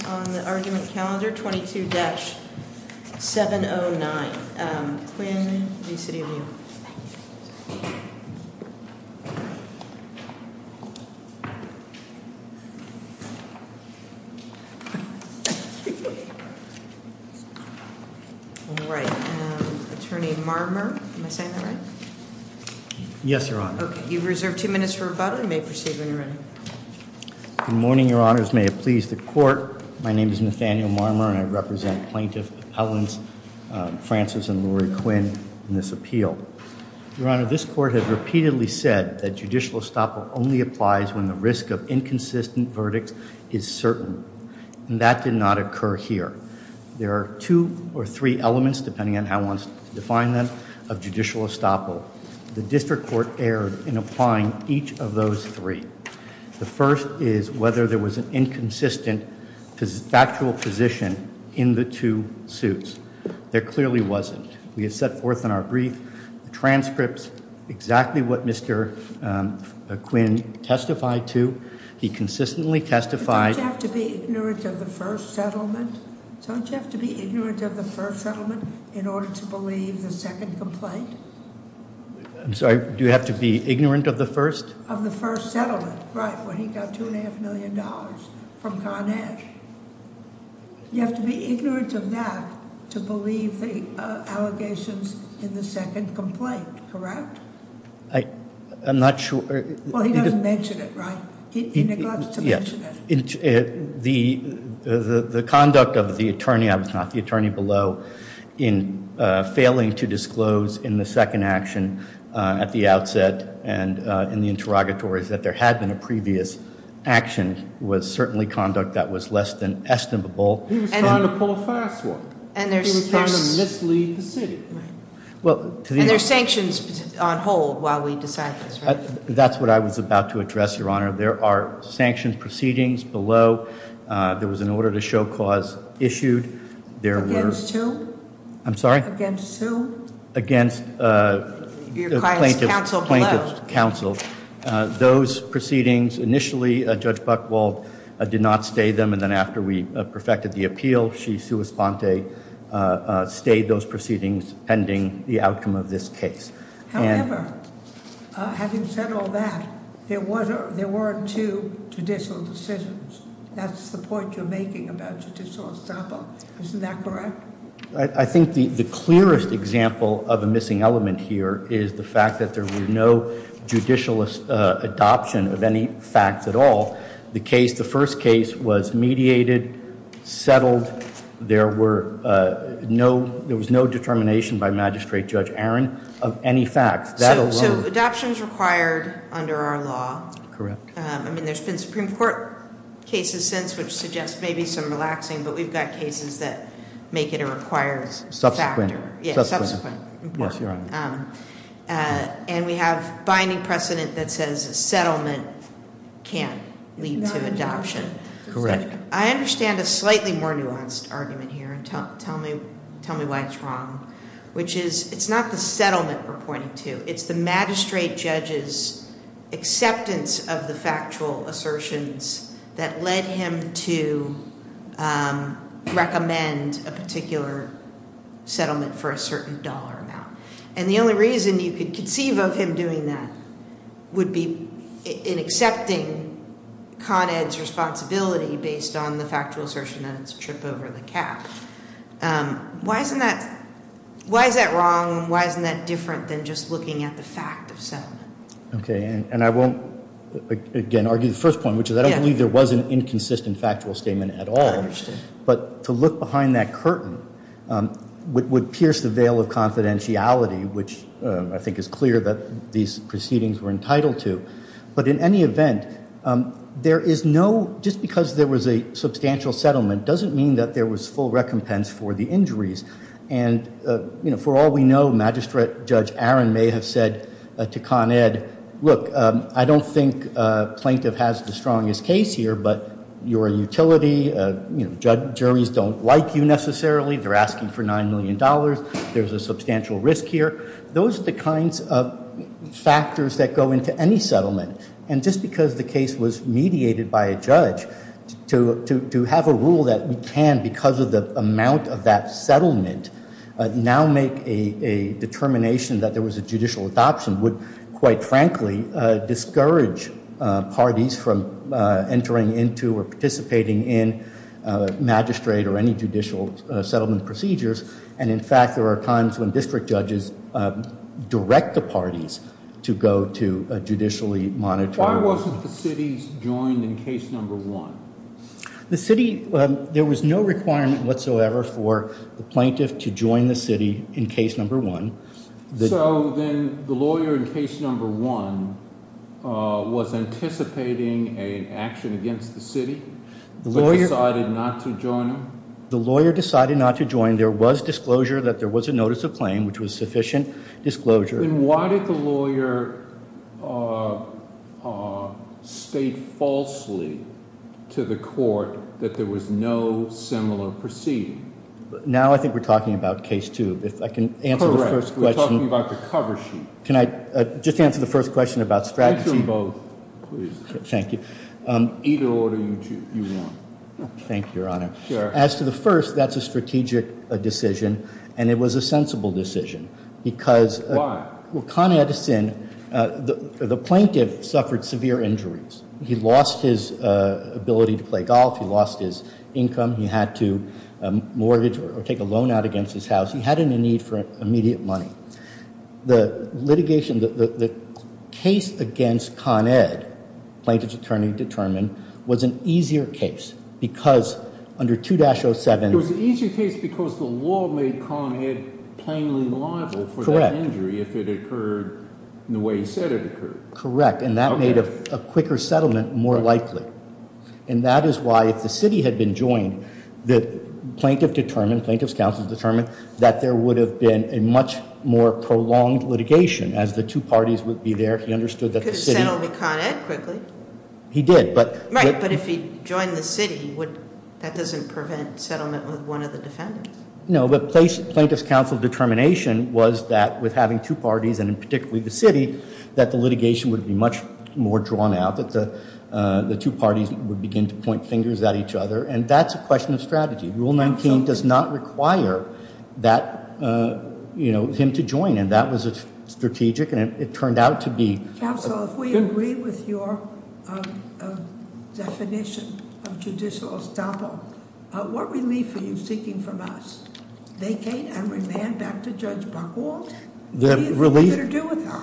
on the argument calendar 22-709, Quinn v. City of New York. Attorney Marmer, am I saying that right? Yes, Your Honor. Okay, you've reserved two minutes for rebuttal. You may proceed when you're ready. Good morning, Your Honors. May it please the Court. My name is Nathaniel Marmer and I represent Plaintiffs Appellants Francis and Lori Quinn in this appeal. Your Honor, this Court has repeatedly said that judicial estoppel only applies when the risk of inconsistent verdicts is certain. And that did not occur here. There are two or three elements, depending on how one wants to define them, of judicial estoppel. The District Court erred in applying each of those three. The first is whether there was an inconsistent factual position in the two suits. There clearly wasn't. We have set forth in our brief transcripts exactly what Mr. Quinn testified to. He consistently testified... Don't you have to be ignorant of the first settlement? Don't you have to be ignorant of the first settlement in order to believe the second complaint? I'm sorry, do you have to be ignorant of the first? Of the first settlement, right, when he got $2.5 million from Carnage. You have to be ignorant of that to believe the allegations in the second complaint, correct? I'm not sure... Well, he doesn't mention it, right? He neglects to mention it. The conduct of the attorney, I was not the attorney below, in failing to disclose in the second action at the outset and in the interrogatories that there had been a previous action was certainly conduct that was less than estimable. He was trying to pull a fast one. He was trying to mislead the city. And there's sanctions on hold while we decide this, right? That's what I was about to address, Your Honor. There are sanctions proceedings below. There was an order to show cause issued. Against who? I'm sorry? Against who? Against the plaintiff's counsel. Those proceedings, initially Judge Buchwald did not stay them. And then after we perfected the appeal, she sui sponte stayed those proceedings pending the outcome of this case. However, having said all that, there were two judicial decisions. That's the point you're making about judicial estoppel. Isn't that correct? I think the clearest example of a missing element here is the fact that there was no judicial adoption of any facts at all. The first case was mediated, settled. There was no determination by Magistrate Judge Aaron of any facts. So adoption is required under our law. Correct. I mean, there's been Supreme Court cases since, which suggests maybe some relaxing, but we've got cases that make it a required factor. Subsequent. Subsequent. Yes, Your Honor. And we have binding precedent that says settlement can't lead to adoption. Correct. I understand a slightly more nuanced argument here and tell me why it's wrong, which is it's not the settlement we're pointing to. It's the magistrate judge's acceptance of the factual assertions that led him to recommend a particular settlement for a certain dollar amount. And the only reason you could conceive of him doing that would be in accepting Con Ed's responsibility based on the factual assertion that it's a trip over the cap. Why is that wrong? Why isn't that different than just looking at the fact of settlement? Okay. And I won't, again, argue the first point, which is I don't believe there was an inconsistent factual statement at all. I understand. But to look behind that curtain would pierce the veil of confidentiality, which I think is clear that these proceedings were entitled to. But in any event, just because there was a substantial settlement doesn't mean that there was full recompense for the injuries. And for all we know, Magistrate Judge Aaron may have said to Con Ed, look, I don't think a plaintiff has the strongest case here, but you're a utility. Juries don't like you necessarily. They're asking for $9 million. There's a substantial risk here. Those are the kinds of factors that go into any settlement. And just because the case was mediated by a judge, to have a rule that we can, because of the amount of that settlement, now make a determination that there was a judicial adoption would, quite frankly, discourage parties from entering into participating in magistrate or any judicial settlement procedures. And, in fact, there are times when district judges direct the parties to go to a judicially monitored. Why wasn't the city joined in case number one? The city, there was no requirement whatsoever for the plaintiff to join the city in case number one. So then the lawyer in case number one was anticipating an action against the city, but decided not to join him? The lawyer decided not to join. There was disclosure that there was a notice of claim, which was sufficient disclosure. Then why did the lawyer state falsely to the court that there was no similar proceeding? Now I think we're talking about case two. If I can answer the first question. Correct. We're talking about the cover sheet. Can I just answer the first question about strategy? Answer them both, please. Thank you. Either order you want. Thank you, Your Honor. Sure. As to the first, that's a strategic decision, and it was a sensible decision, because- Why? Well, Con Edison, the plaintiff suffered severe injuries. He lost his ability to play golf. He lost his income. He had to mortgage or take a loan out against his house. He had a need for immediate money. The litigation, the case against Con Ed, plaintiff's attorney determined, was an easier case, because under 2-07- It was an easier case because the law made Con Ed plainly liable for that injury if it occurred the way he said it occurred. Correct. And that made a quicker settlement more likely. And that is why if the city had been joined, the plaintiff determined, plaintiff's counsel determined, that there would have been a much more prolonged litigation as the two parties would be there. He understood that the city- Could have settled Con Ed quickly. He did, but- Right, but if he joined the city, that doesn't prevent settlement with one of the defendants. No, but plaintiff's counsel's determination was that with having two parties, and particularly the city, that the litigation would be much more drawn out, that the two parties would begin to point fingers at each other. And that's a question of strategy. Rule 19 does not require him to join, and that was a strategic, and it turned out to be- Counsel, if we agree with your definition of judicial estoppel, what relief are you seeking from us? Vacate and remand back to Judge Buchwald? He has nothing better to do with that.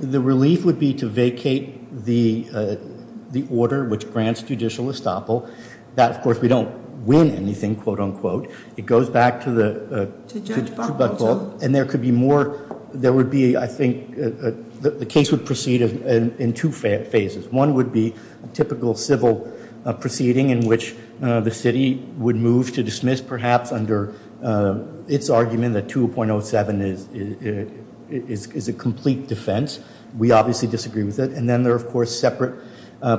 The relief would be to vacate the order which grants judicial estoppel. That, of course, we don't win anything, quote, unquote. It goes back to the- To Judge Buchwald. And there could be more, there would be, I think, the case would proceed in two phases. One would be a typical civil proceeding in which the city would move to dismiss, perhaps under its argument that 2.07 is a complete defense. We obviously disagree with it. And then there are, of course, separate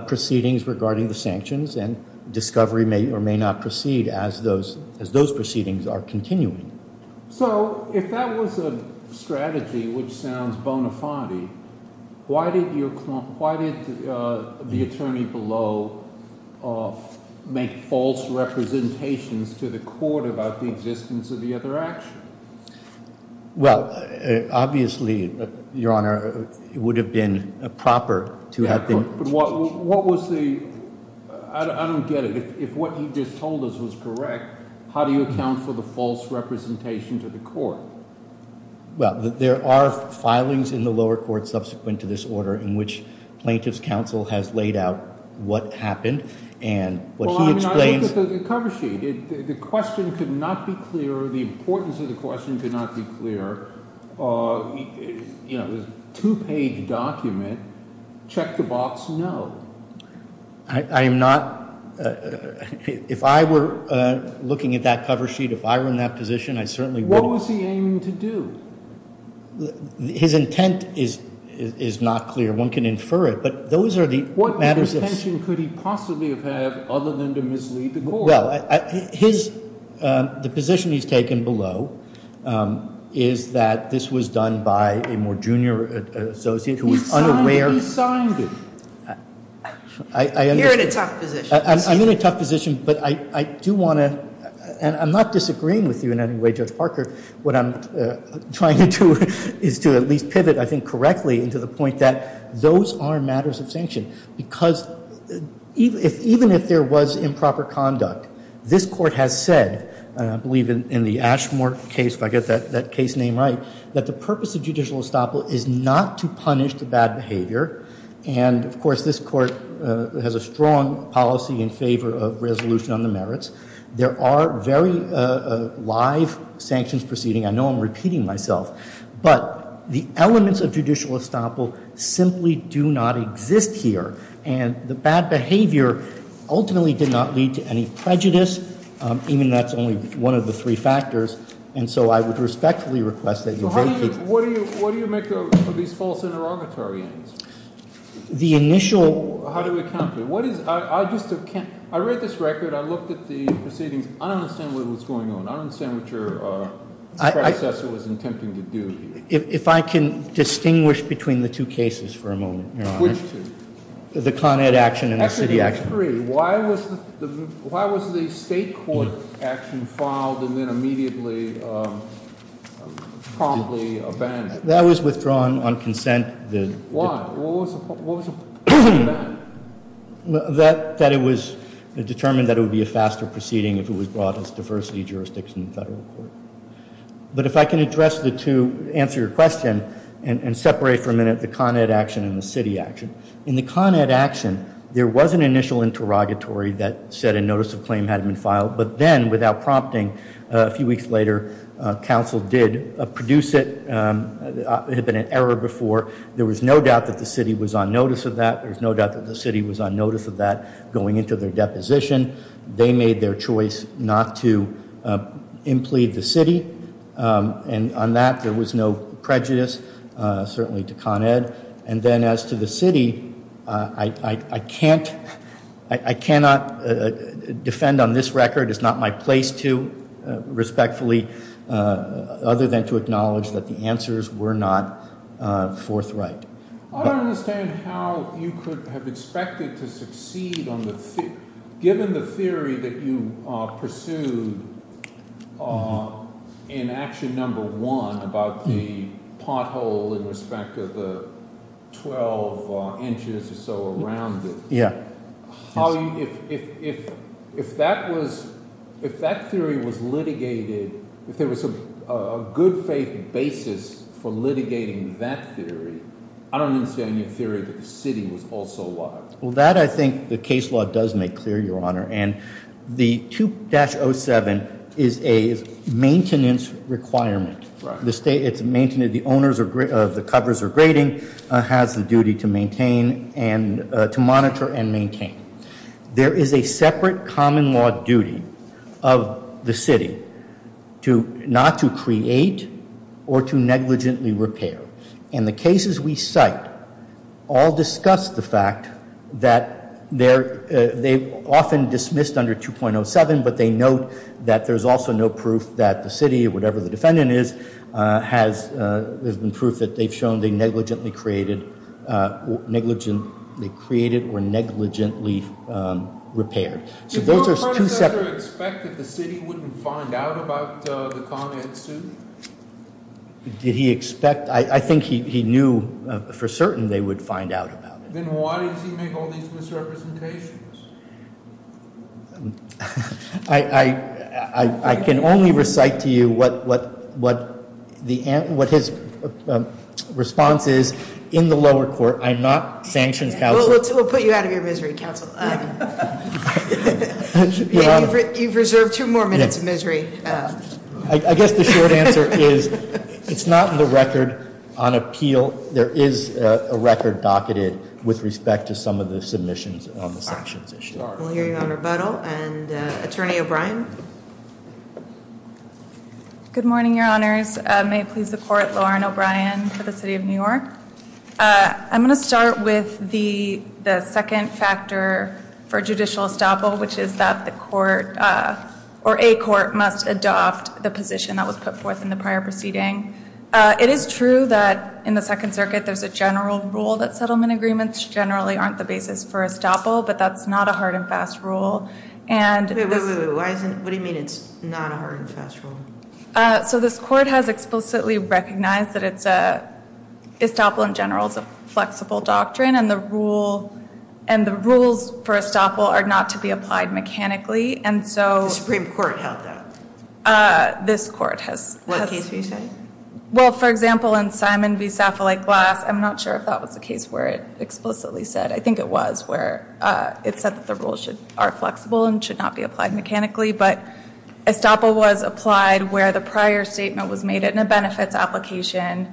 proceedings regarding the sanctions, and discovery may or may not proceed as those proceedings are continuing. So if that was a strategy which sounds bona fide, why did the attorney below make false representations to the court about the existence of the other action? Well, obviously, Your Honor, it would have been proper to have been- But what was the- I don't get it. If what he just told us was correct, how do you account for the false representation to the court? Well, there are filings in the lower court subsequent to this order in which plaintiff's counsel has laid out what happened and what he explains- Well, I mean, I looked at the cover sheet. The question could not be clearer. The importance of the question could not be clearer. There's a two-page document. Check the box, no. I am not- if I were looking at that cover sheet, if I were in that position, I certainly wouldn't- What was he aiming to do? His intent is not clear. One can infer it, but those are the matters of- What intention could he possibly have had other than to mislead the court? Well, his- the position he's taken below is that this was done by a more junior associate who was unaware- He signed it. You're in a tough position. I'm in a tough position, but I do want to- and I'm not disagreeing with you in any way, Judge Parker. What I'm trying to do is to at least pivot, I think, correctly into the point that those are matters of sanction. Because even if there was improper conduct, this court has said- I believe in the Ashmore case, if I get that case name right- that the purpose of judicial estoppel is not to punish the bad behavior. And, of course, this court has a strong policy in favor of resolution on the merits. There are very live sanctions proceeding. I know I'm repeating myself. But the elements of judicial estoppel simply do not exist here. And the bad behavior ultimately did not lead to any prejudice, even if that's only one of the three factors. And so I would respectfully request that you- What do you make of these false interrogatory aims? The initial- How do we counter it? What is- I just can't- I read this record. I looked at the proceedings. I don't understand what was going on. I don't understand what your predecessor was attempting to do here. If I can distinguish between the two cases for a moment, Your Honor. Which two? The Con Ed action and the city action. Actually, I agree. Why was the state court action filed and then immediately promptly abandoned? That was withdrawn on consent. Why? What was abandoned? That it was determined that it would be a faster proceeding if it was brought as diversity jurisdiction in federal court. But if I can address the two, answer your question, and separate for a minute the Con Ed action and the city action. In the Con Ed action, there was an initial interrogatory that said a notice of claim had been filed. But then, without prompting, a few weeks later, counsel did produce it. It had been an error before. There was no doubt that the city was on notice of that. There was no doubt that the city was on notice of that going into their deposition. They made their choice not to implead the city. And on that, there was no prejudice, certainly to Con Ed. And then as to the city, I cannot defend on this record. It's not my place to, respectfully, other than to acknowledge that the answers were not forthright. I don't understand how you could have expected to succeed on the theory. Given the theory that you pursued in action number one about the pothole in respect of the 12 inches or so around it. Yeah. If that theory was litigated, if there was a good faith basis for litigating that theory, I don't understand your theory that the city was also a liar. Well, that I think the case law does make clear, Your Honor. And the 2-07 is a maintenance requirement. Right. The owners of the covers or grading has the duty to maintain and to monitor and maintain. There is a separate common law duty of the city not to create or to negligently repair. And the cases we cite all discuss the fact that they're often dismissed under 2.07. But they note that there's also no proof that the city, whatever the defendant is, has been proof that they've shown they negligently created or negligently repaired. So those are two separate- Did your predecessor expect that the city wouldn't find out about the Con Ed suit? Did he expect? I think he knew for certain they would find out about it. Then why does he make all these misrepresentations? I can only recite to you what his response is in the lower court. I'm not sanctions counsel. We'll put you out of your misery, counsel. You've reserved two more minutes of misery. I guess the short answer is it's not in the record on appeal. There is a record docketed with respect to some of the submissions on the sanctions issue. We'll hear you on rebuttal. And Attorney O'Brien. Good morning, Your Honors. May it please the court, Lauren O'Brien for the city of New York. I'm going to start with the second factor for judicial estoppel, which is that the court or a court must adopt the position that was put forth in the prior proceeding. It is true that in the Second Circuit there's a general rule that settlement agreements generally aren't the basis for estoppel, but that's not a hard and fast rule. Wait, wait, wait. What do you mean it's not a hard and fast rule? So this court has explicitly recognized that estoppel in general is a flexible doctrine and the rules for estoppel are not to be applied mechanically. The Supreme Court held that? This court has. What case were you saying? Well, for example, in Simon v. Saffolik-Glass, I'm not sure if that was the case where it explicitly said. I think it was where it said that the rules are flexible and should not be applied mechanically. But estoppel was applied where the prior statement was made in a benefits application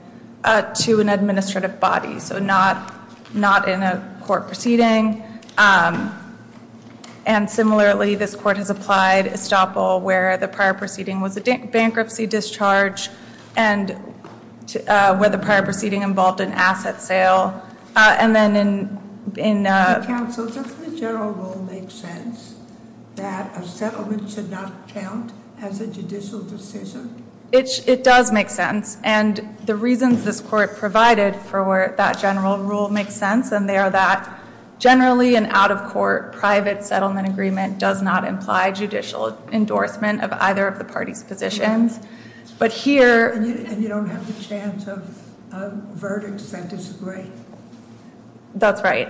to an administrative body, so not in a court proceeding. And similarly, this court has applied estoppel where the prior proceeding was a bankruptcy discharge and where the prior proceeding involved an asset sale. Counsel, doesn't the general rule make sense that a settlement should not count as a judicial decision? It does make sense. And the reasons this court provided for that general rule make sense, and they are that generally an out-of-court private settlement agreement does not imply judicial endorsement of either of the parties' positions. And you don't have the chance of verdicts that disagree. That's right.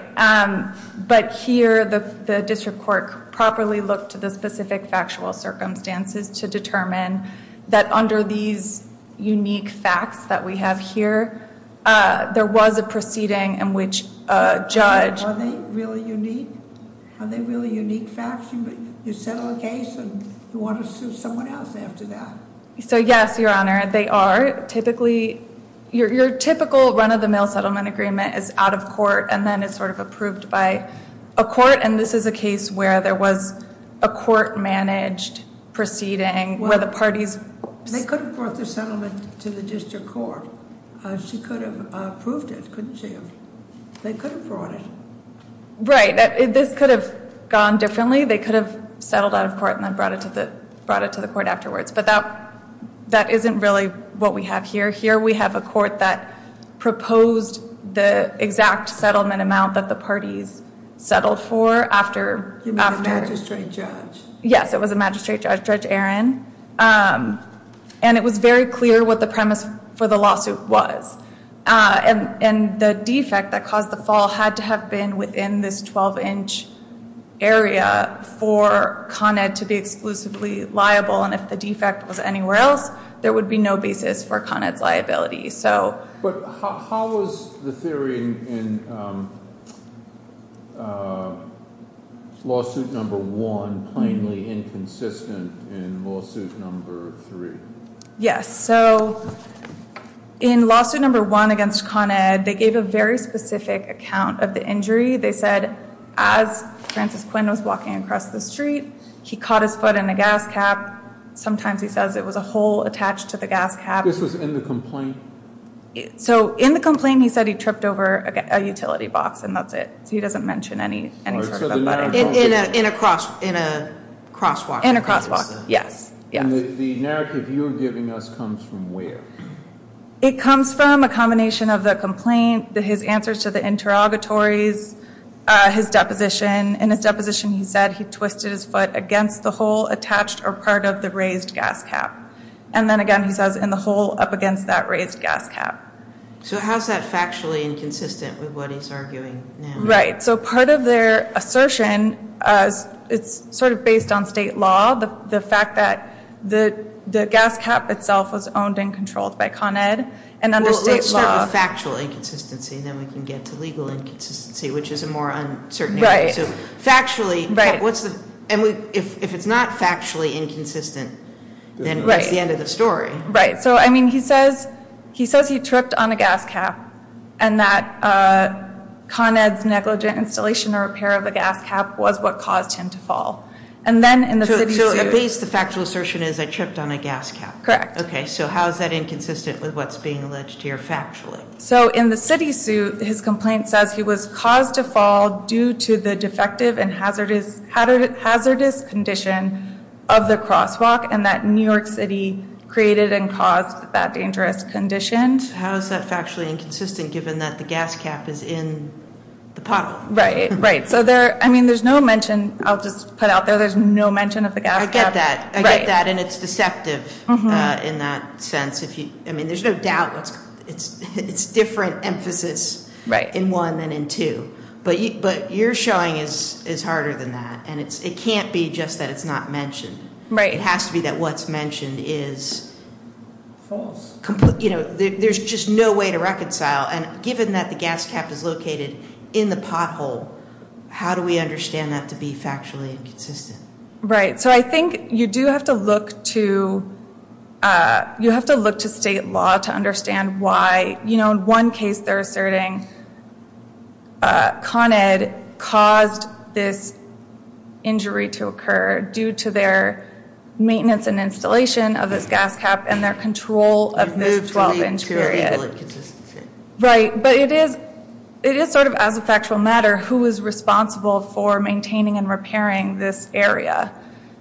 But here, the district court properly looked to the specific factual circumstances to determine that under these unique facts that we have here, there was a proceeding in which a judge- Are they really unique? Are they really unique facts? You settle a case and you want to sue someone else after that. So, yes, Your Honor, they are. Typically, your typical run-of-the-mill settlement agreement is out-of-court and then is sort of approved by a court, and this is a case where there was a court-managed proceeding where the parties- They could have brought the settlement to the district court. She could have approved it, couldn't she have? They could have brought it. Right. This could have gone differently. They could have settled out-of-court and then brought it to the court afterwards. But that isn't really what we have here. Here we have a court that proposed the exact settlement amount that the parties settled for after- You mean the magistrate judge? Yes, it was a magistrate judge, Judge Aaron. And it was very clear what the premise for the lawsuit was. And the defect that caused the fall had to have been within this 12-inch area for Con Ed to be exclusively liable, and if the defect was anywhere else, there would be no basis for Con Ed's liability. But how was the theory in lawsuit number one plainly inconsistent in lawsuit number three? Yes, so in lawsuit number one against Con Ed, they gave a very specific account of the injury. They said as Francis Quinn was walking across the street, he caught his foot in a gas cap. Sometimes he says it was a hole attached to the gas cap. This was in the complaint? So in the complaint, he said he tripped over a utility box and that's it. He doesn't mention any sort of- In a crosswalk? In a crosswalk, yes. And the narrative you're giving us comes from where? It comes from a combination of the complaint, his answers to the interrogatories, his deposition. In his deposition, he said he twisted his foot against the hole attached or part of the raised gas cap. And then again, he says in the hole up against that raised gas cap. So how is that factually inconsistent with what he's arguing now? Right, so part of their assertion, it's sort of based on state law. The fact that the gas cap itself was owned and controlled by Con Ed and under state law- Well, let's start with factual inconsistency and then we can get to legal inconsistency, which is a more uncertain- Right. Factually- Right. And if it's not factually inconsistent, then that's the end of the story. Right. So I mean, he says he tripped on a gas cap and that Con Ed's negligent installation or repair of the gas cap was what caused him to fall. And then in the city suit- So at least the factual assertion is I tripped on a gas cap. Correct. Okay, so how is that inconsistent with what's being alleged here factually? So in the city suit, his complaint says he was caused to fall due to the defective and hazardous condition of the crosswalk and that New York City created and caused that dangerous condition. How is that factually inconsistent given that the gas cap is in the pothole? Right, right. So there's no mention, I'll just put out there, there's no mention of the gas cap. I get that. I get that and it's deceptive in that sense. I mean, there's no doubt it's different emphasis in one than in two. But your showing is harder than that and it can't be just that it's not mentioned. Right. It has to be that what's mentioned is- False. There's just no way to reconcile. And given that the gas cap is located in the pothole, how do we understand that to be factually inconsistent? Right. So I think you do have to look to, you have to look to state law to understand why, you know, in one case they're asserting Con Ed caused this injury to occur due to their maintenance and installation of this gas cap and their control of this 12 inch period. Right. It is sort of as a factual matter who is responsible for maintaining and repairing this area.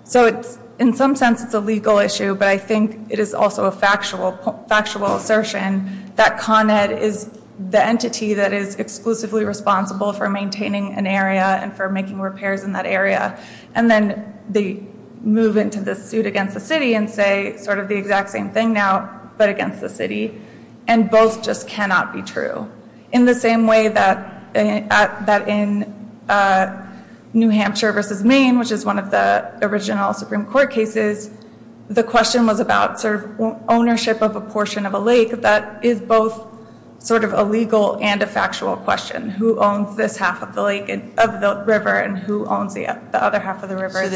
So in some sense it's a legal issue, but I think it is also a factual assertion that Con Ed is the entity that is exclusively responsible for maintaining an area and for making repairs in that area. And then they move into this suit against the city and say sort of the exact same thing now, but against the city. And both just cannot be true. So in the same way that in New Hampshire versus Maine, which is one of the original Supreme Court cases, the question was about sort of ownership of a portion of a lake. That is both sort of a legal and a factual question. Who owns this half of the lake, of the river, and who owns the other half of the river?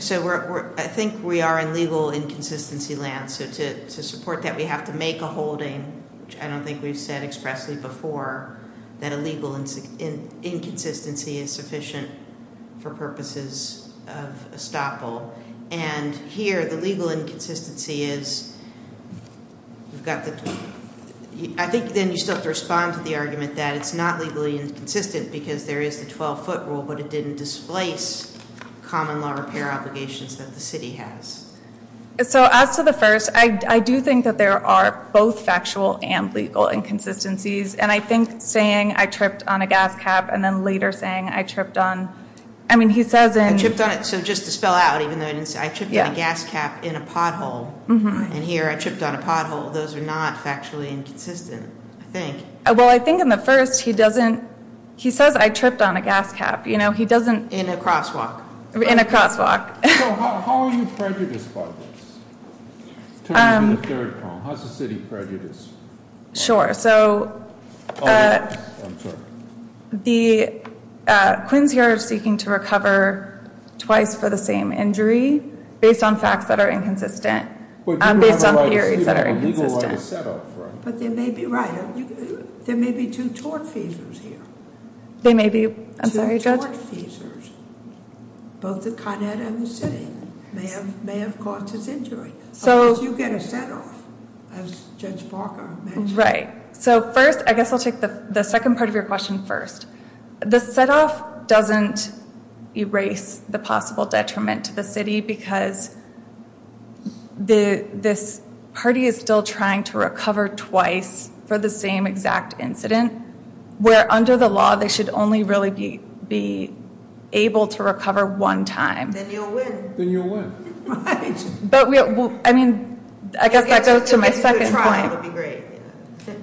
So I think we are in legal inconsistency land. So to support that, we have to make a holding, which I don't think we've said expressly before, that a legal inconsistency is sufficient for purposes of estoppel. And here the legal inconsistency is, I think then you still have to respond to the argument that it's not legally inconsistent because there is the 12-foot rule, but it didn't displace common law repair obligations that the city has. So as to the first, I do think that there are both factual and legal inconsistencies. And I think saying I tripped on a gas cap and then later saying I tripped on, I mean, he says in I tripped on it, so just to spell out, even though I didn't say, I tripped on a gas cap in a pothole. And here I tripped on a pothole. Those are not factually inconsistent, I think. Well, I think in the first he doesn't, he says I tripped on a gas cap. You know, he doesn't In a crosswalk. In a crosswalk. So how are you prejudiced about this? Turning to the third problem. How's the city prejudiced? Sure. So the Quinns here are seeking to recover twice for the same injury based on facts that are inconsistent. Based on theories that are inconsistent. But there may be, right, there may be two tort fevers here. There may be, I'm sorry, Judge? Two tort fevers. Both the Con Ed and the city may have caused this injury. Unless you get a set off, as Judge Parker mentioned. Right. So first, I guess I'll take the second part of your question first. The set off doesn't erase the possible detriment to the city because this party is still trying to recover twice for the same exact incident. Where under the law they should only really be able to recover one time. Then you'll win. Then you'll win. But I mean, I guess that goes to my second point.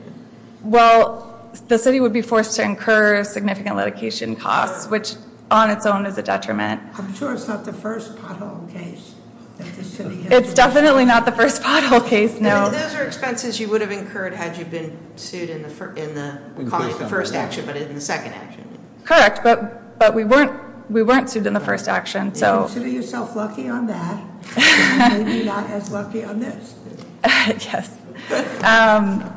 Well, the city would be forced to incur significant litigation costs, which on its own is a detriment. I'm sure it's not the first pothole case. It's definitely not the first pothole case, no. Those are expenses you would have incurred had you been sued in the first action, but in the second action. Correct, but we weren't sued in the first action. You consider yourself lucky on that. Maybe not as lucky on this. Yes. You have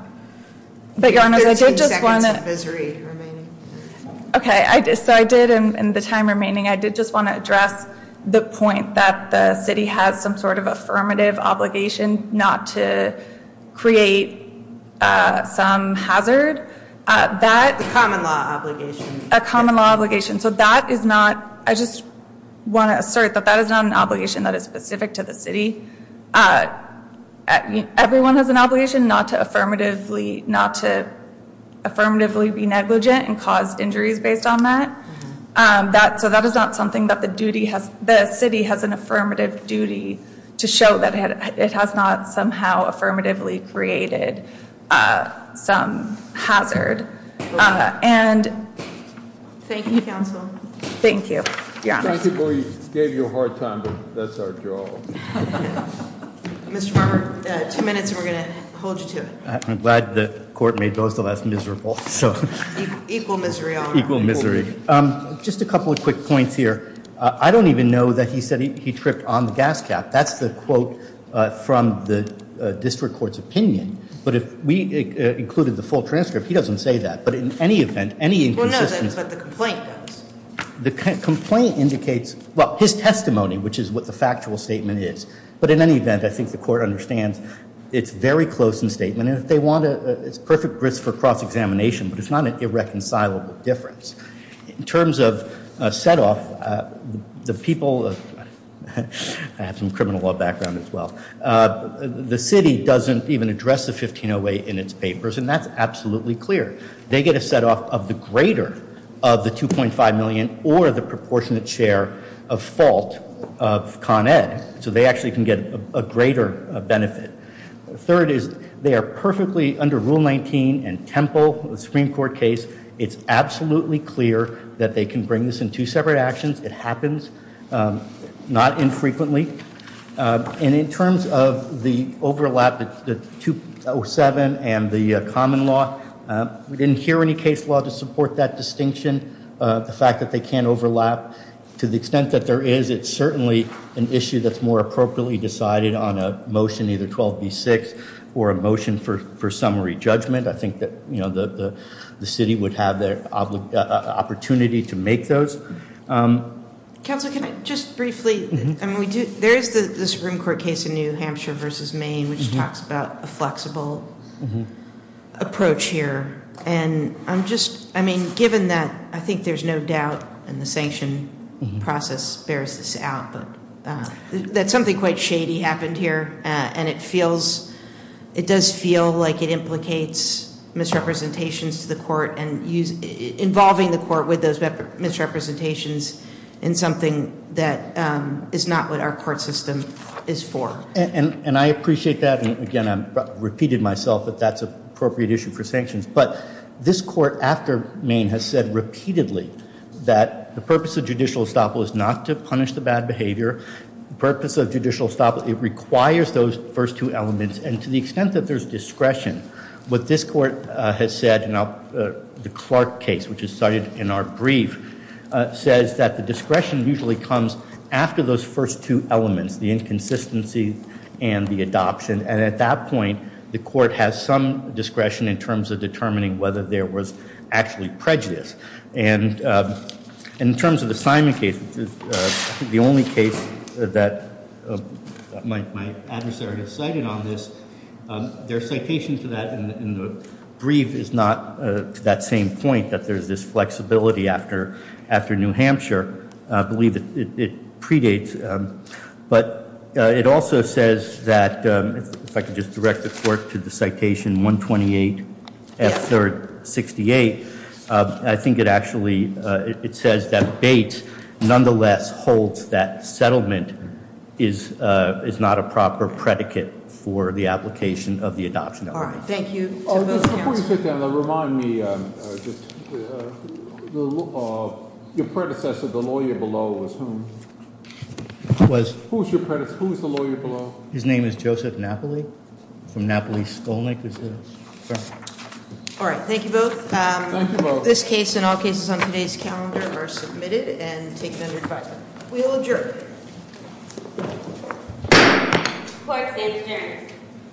13 seconds of viscerate remaining. Okay, so I did in the time remaining, I did just want to address the point that the city has some sort of affirmative obligation not to create some hazard. The common law obligation. A common law obligation. I just want to assert that that is not an obligation that is specific to the city. Everyone has an obligation not to affirmatively be negligent and cause injuries based on that. So that is not something that the city has an affirmative duty to show that it has not somehow affirmatively created some hazard. Thank you, counsel. Thank you. We gave you a hard time, but that's our job. Mr. Farmer, two minutes and we're going to hold you to it. I'm glad the court made those the less miserable. Equal misery. Equal misery. Just a couple of quick points here. I don't even know that he said he tripped on the gas cap. That's the quote from the district court's opinion. But if we included the full transcript, he doesn't say that. But in any event, any inconsistency. Well, no, that's what the complaint does. The complaint indicates, well, his testimony, which is what the factual statement is. But in any event, I think the court understands it's very close in statement. And if they want a perfect risk for cross-examination, but it's not an irreconcilable difference. In terms of setoff, the people, I have some criminal law background as well. The city doesn't even address the 1508 in its papers, and that's absolutely clear. They get a setoff of the greater of the $2.5 million or the proportionate share of fault of Con Ed. So they actually can get a greater benefit. Third is they are perfectly under Rule 19 and Temple, the Supreme Court case. It's absolutely clear that they can bring this in two separate actions. It happens, not infrequently. And in terms of the overlap, the 207 and the common law, we didn't hear any case law to support that distinction. The fact that they can overlap to the extent that there is, it's certainly an issue that's more appropriately decided on a motion, either 12B6 or a motion for summary judgment. I think that the city would have the opportunity to make those. Council, can I just briefly, there is the Supreme Court case in New Hampshire versus Maine, which talks about a flexible approach here. And I'm just, I mean, given that I think there's no doubt in the sanction process bears this out, that something quite shady happened here and it feels, it does feel like it implicates misrepresentations to the court and involving the court with those misrepresentations in something that is not what our court system is for. And I appreciate that. And again, I repeated myself that that's an appropriate issue for sanctions. But this court after Maine has said repeatedly that the purpose of judicial estoppel is not to punish the bad behavior. The purpose of judicial estoppel, it requires those first two elements. And to the extent that there's discretion, what this court has said, and the Clark case, which is cited in our brief, says that the discretion usually comes after those first two elements, the inconsistency and the adoption. And at that point, the court has some discretion in terms of determining whether there was actually prejudice. And in terms of the Simon case, which is the only case that my adversary has cited on this, their citation to that in the brief is not to that same point, that there's this flexibility after New Hampshire. I believe it predates. But it also says that, if I could just direct the court to the citation 128 F3rd 68. I think it actually, it says that Bates nonetheless holds that settlement is not a proper predicate for the application of the adoption. Thank you. Before you sit down, remind me, your predecessor, the lawyer below, was who? Was. Who's the lawyer below? His name is Joseph Napoli from Napoli Skolnick. All right. Thank you both. Thank you both. This case and all cases on today's calendar are submitted and taken under divide. We will adjourn. Court is adjourned.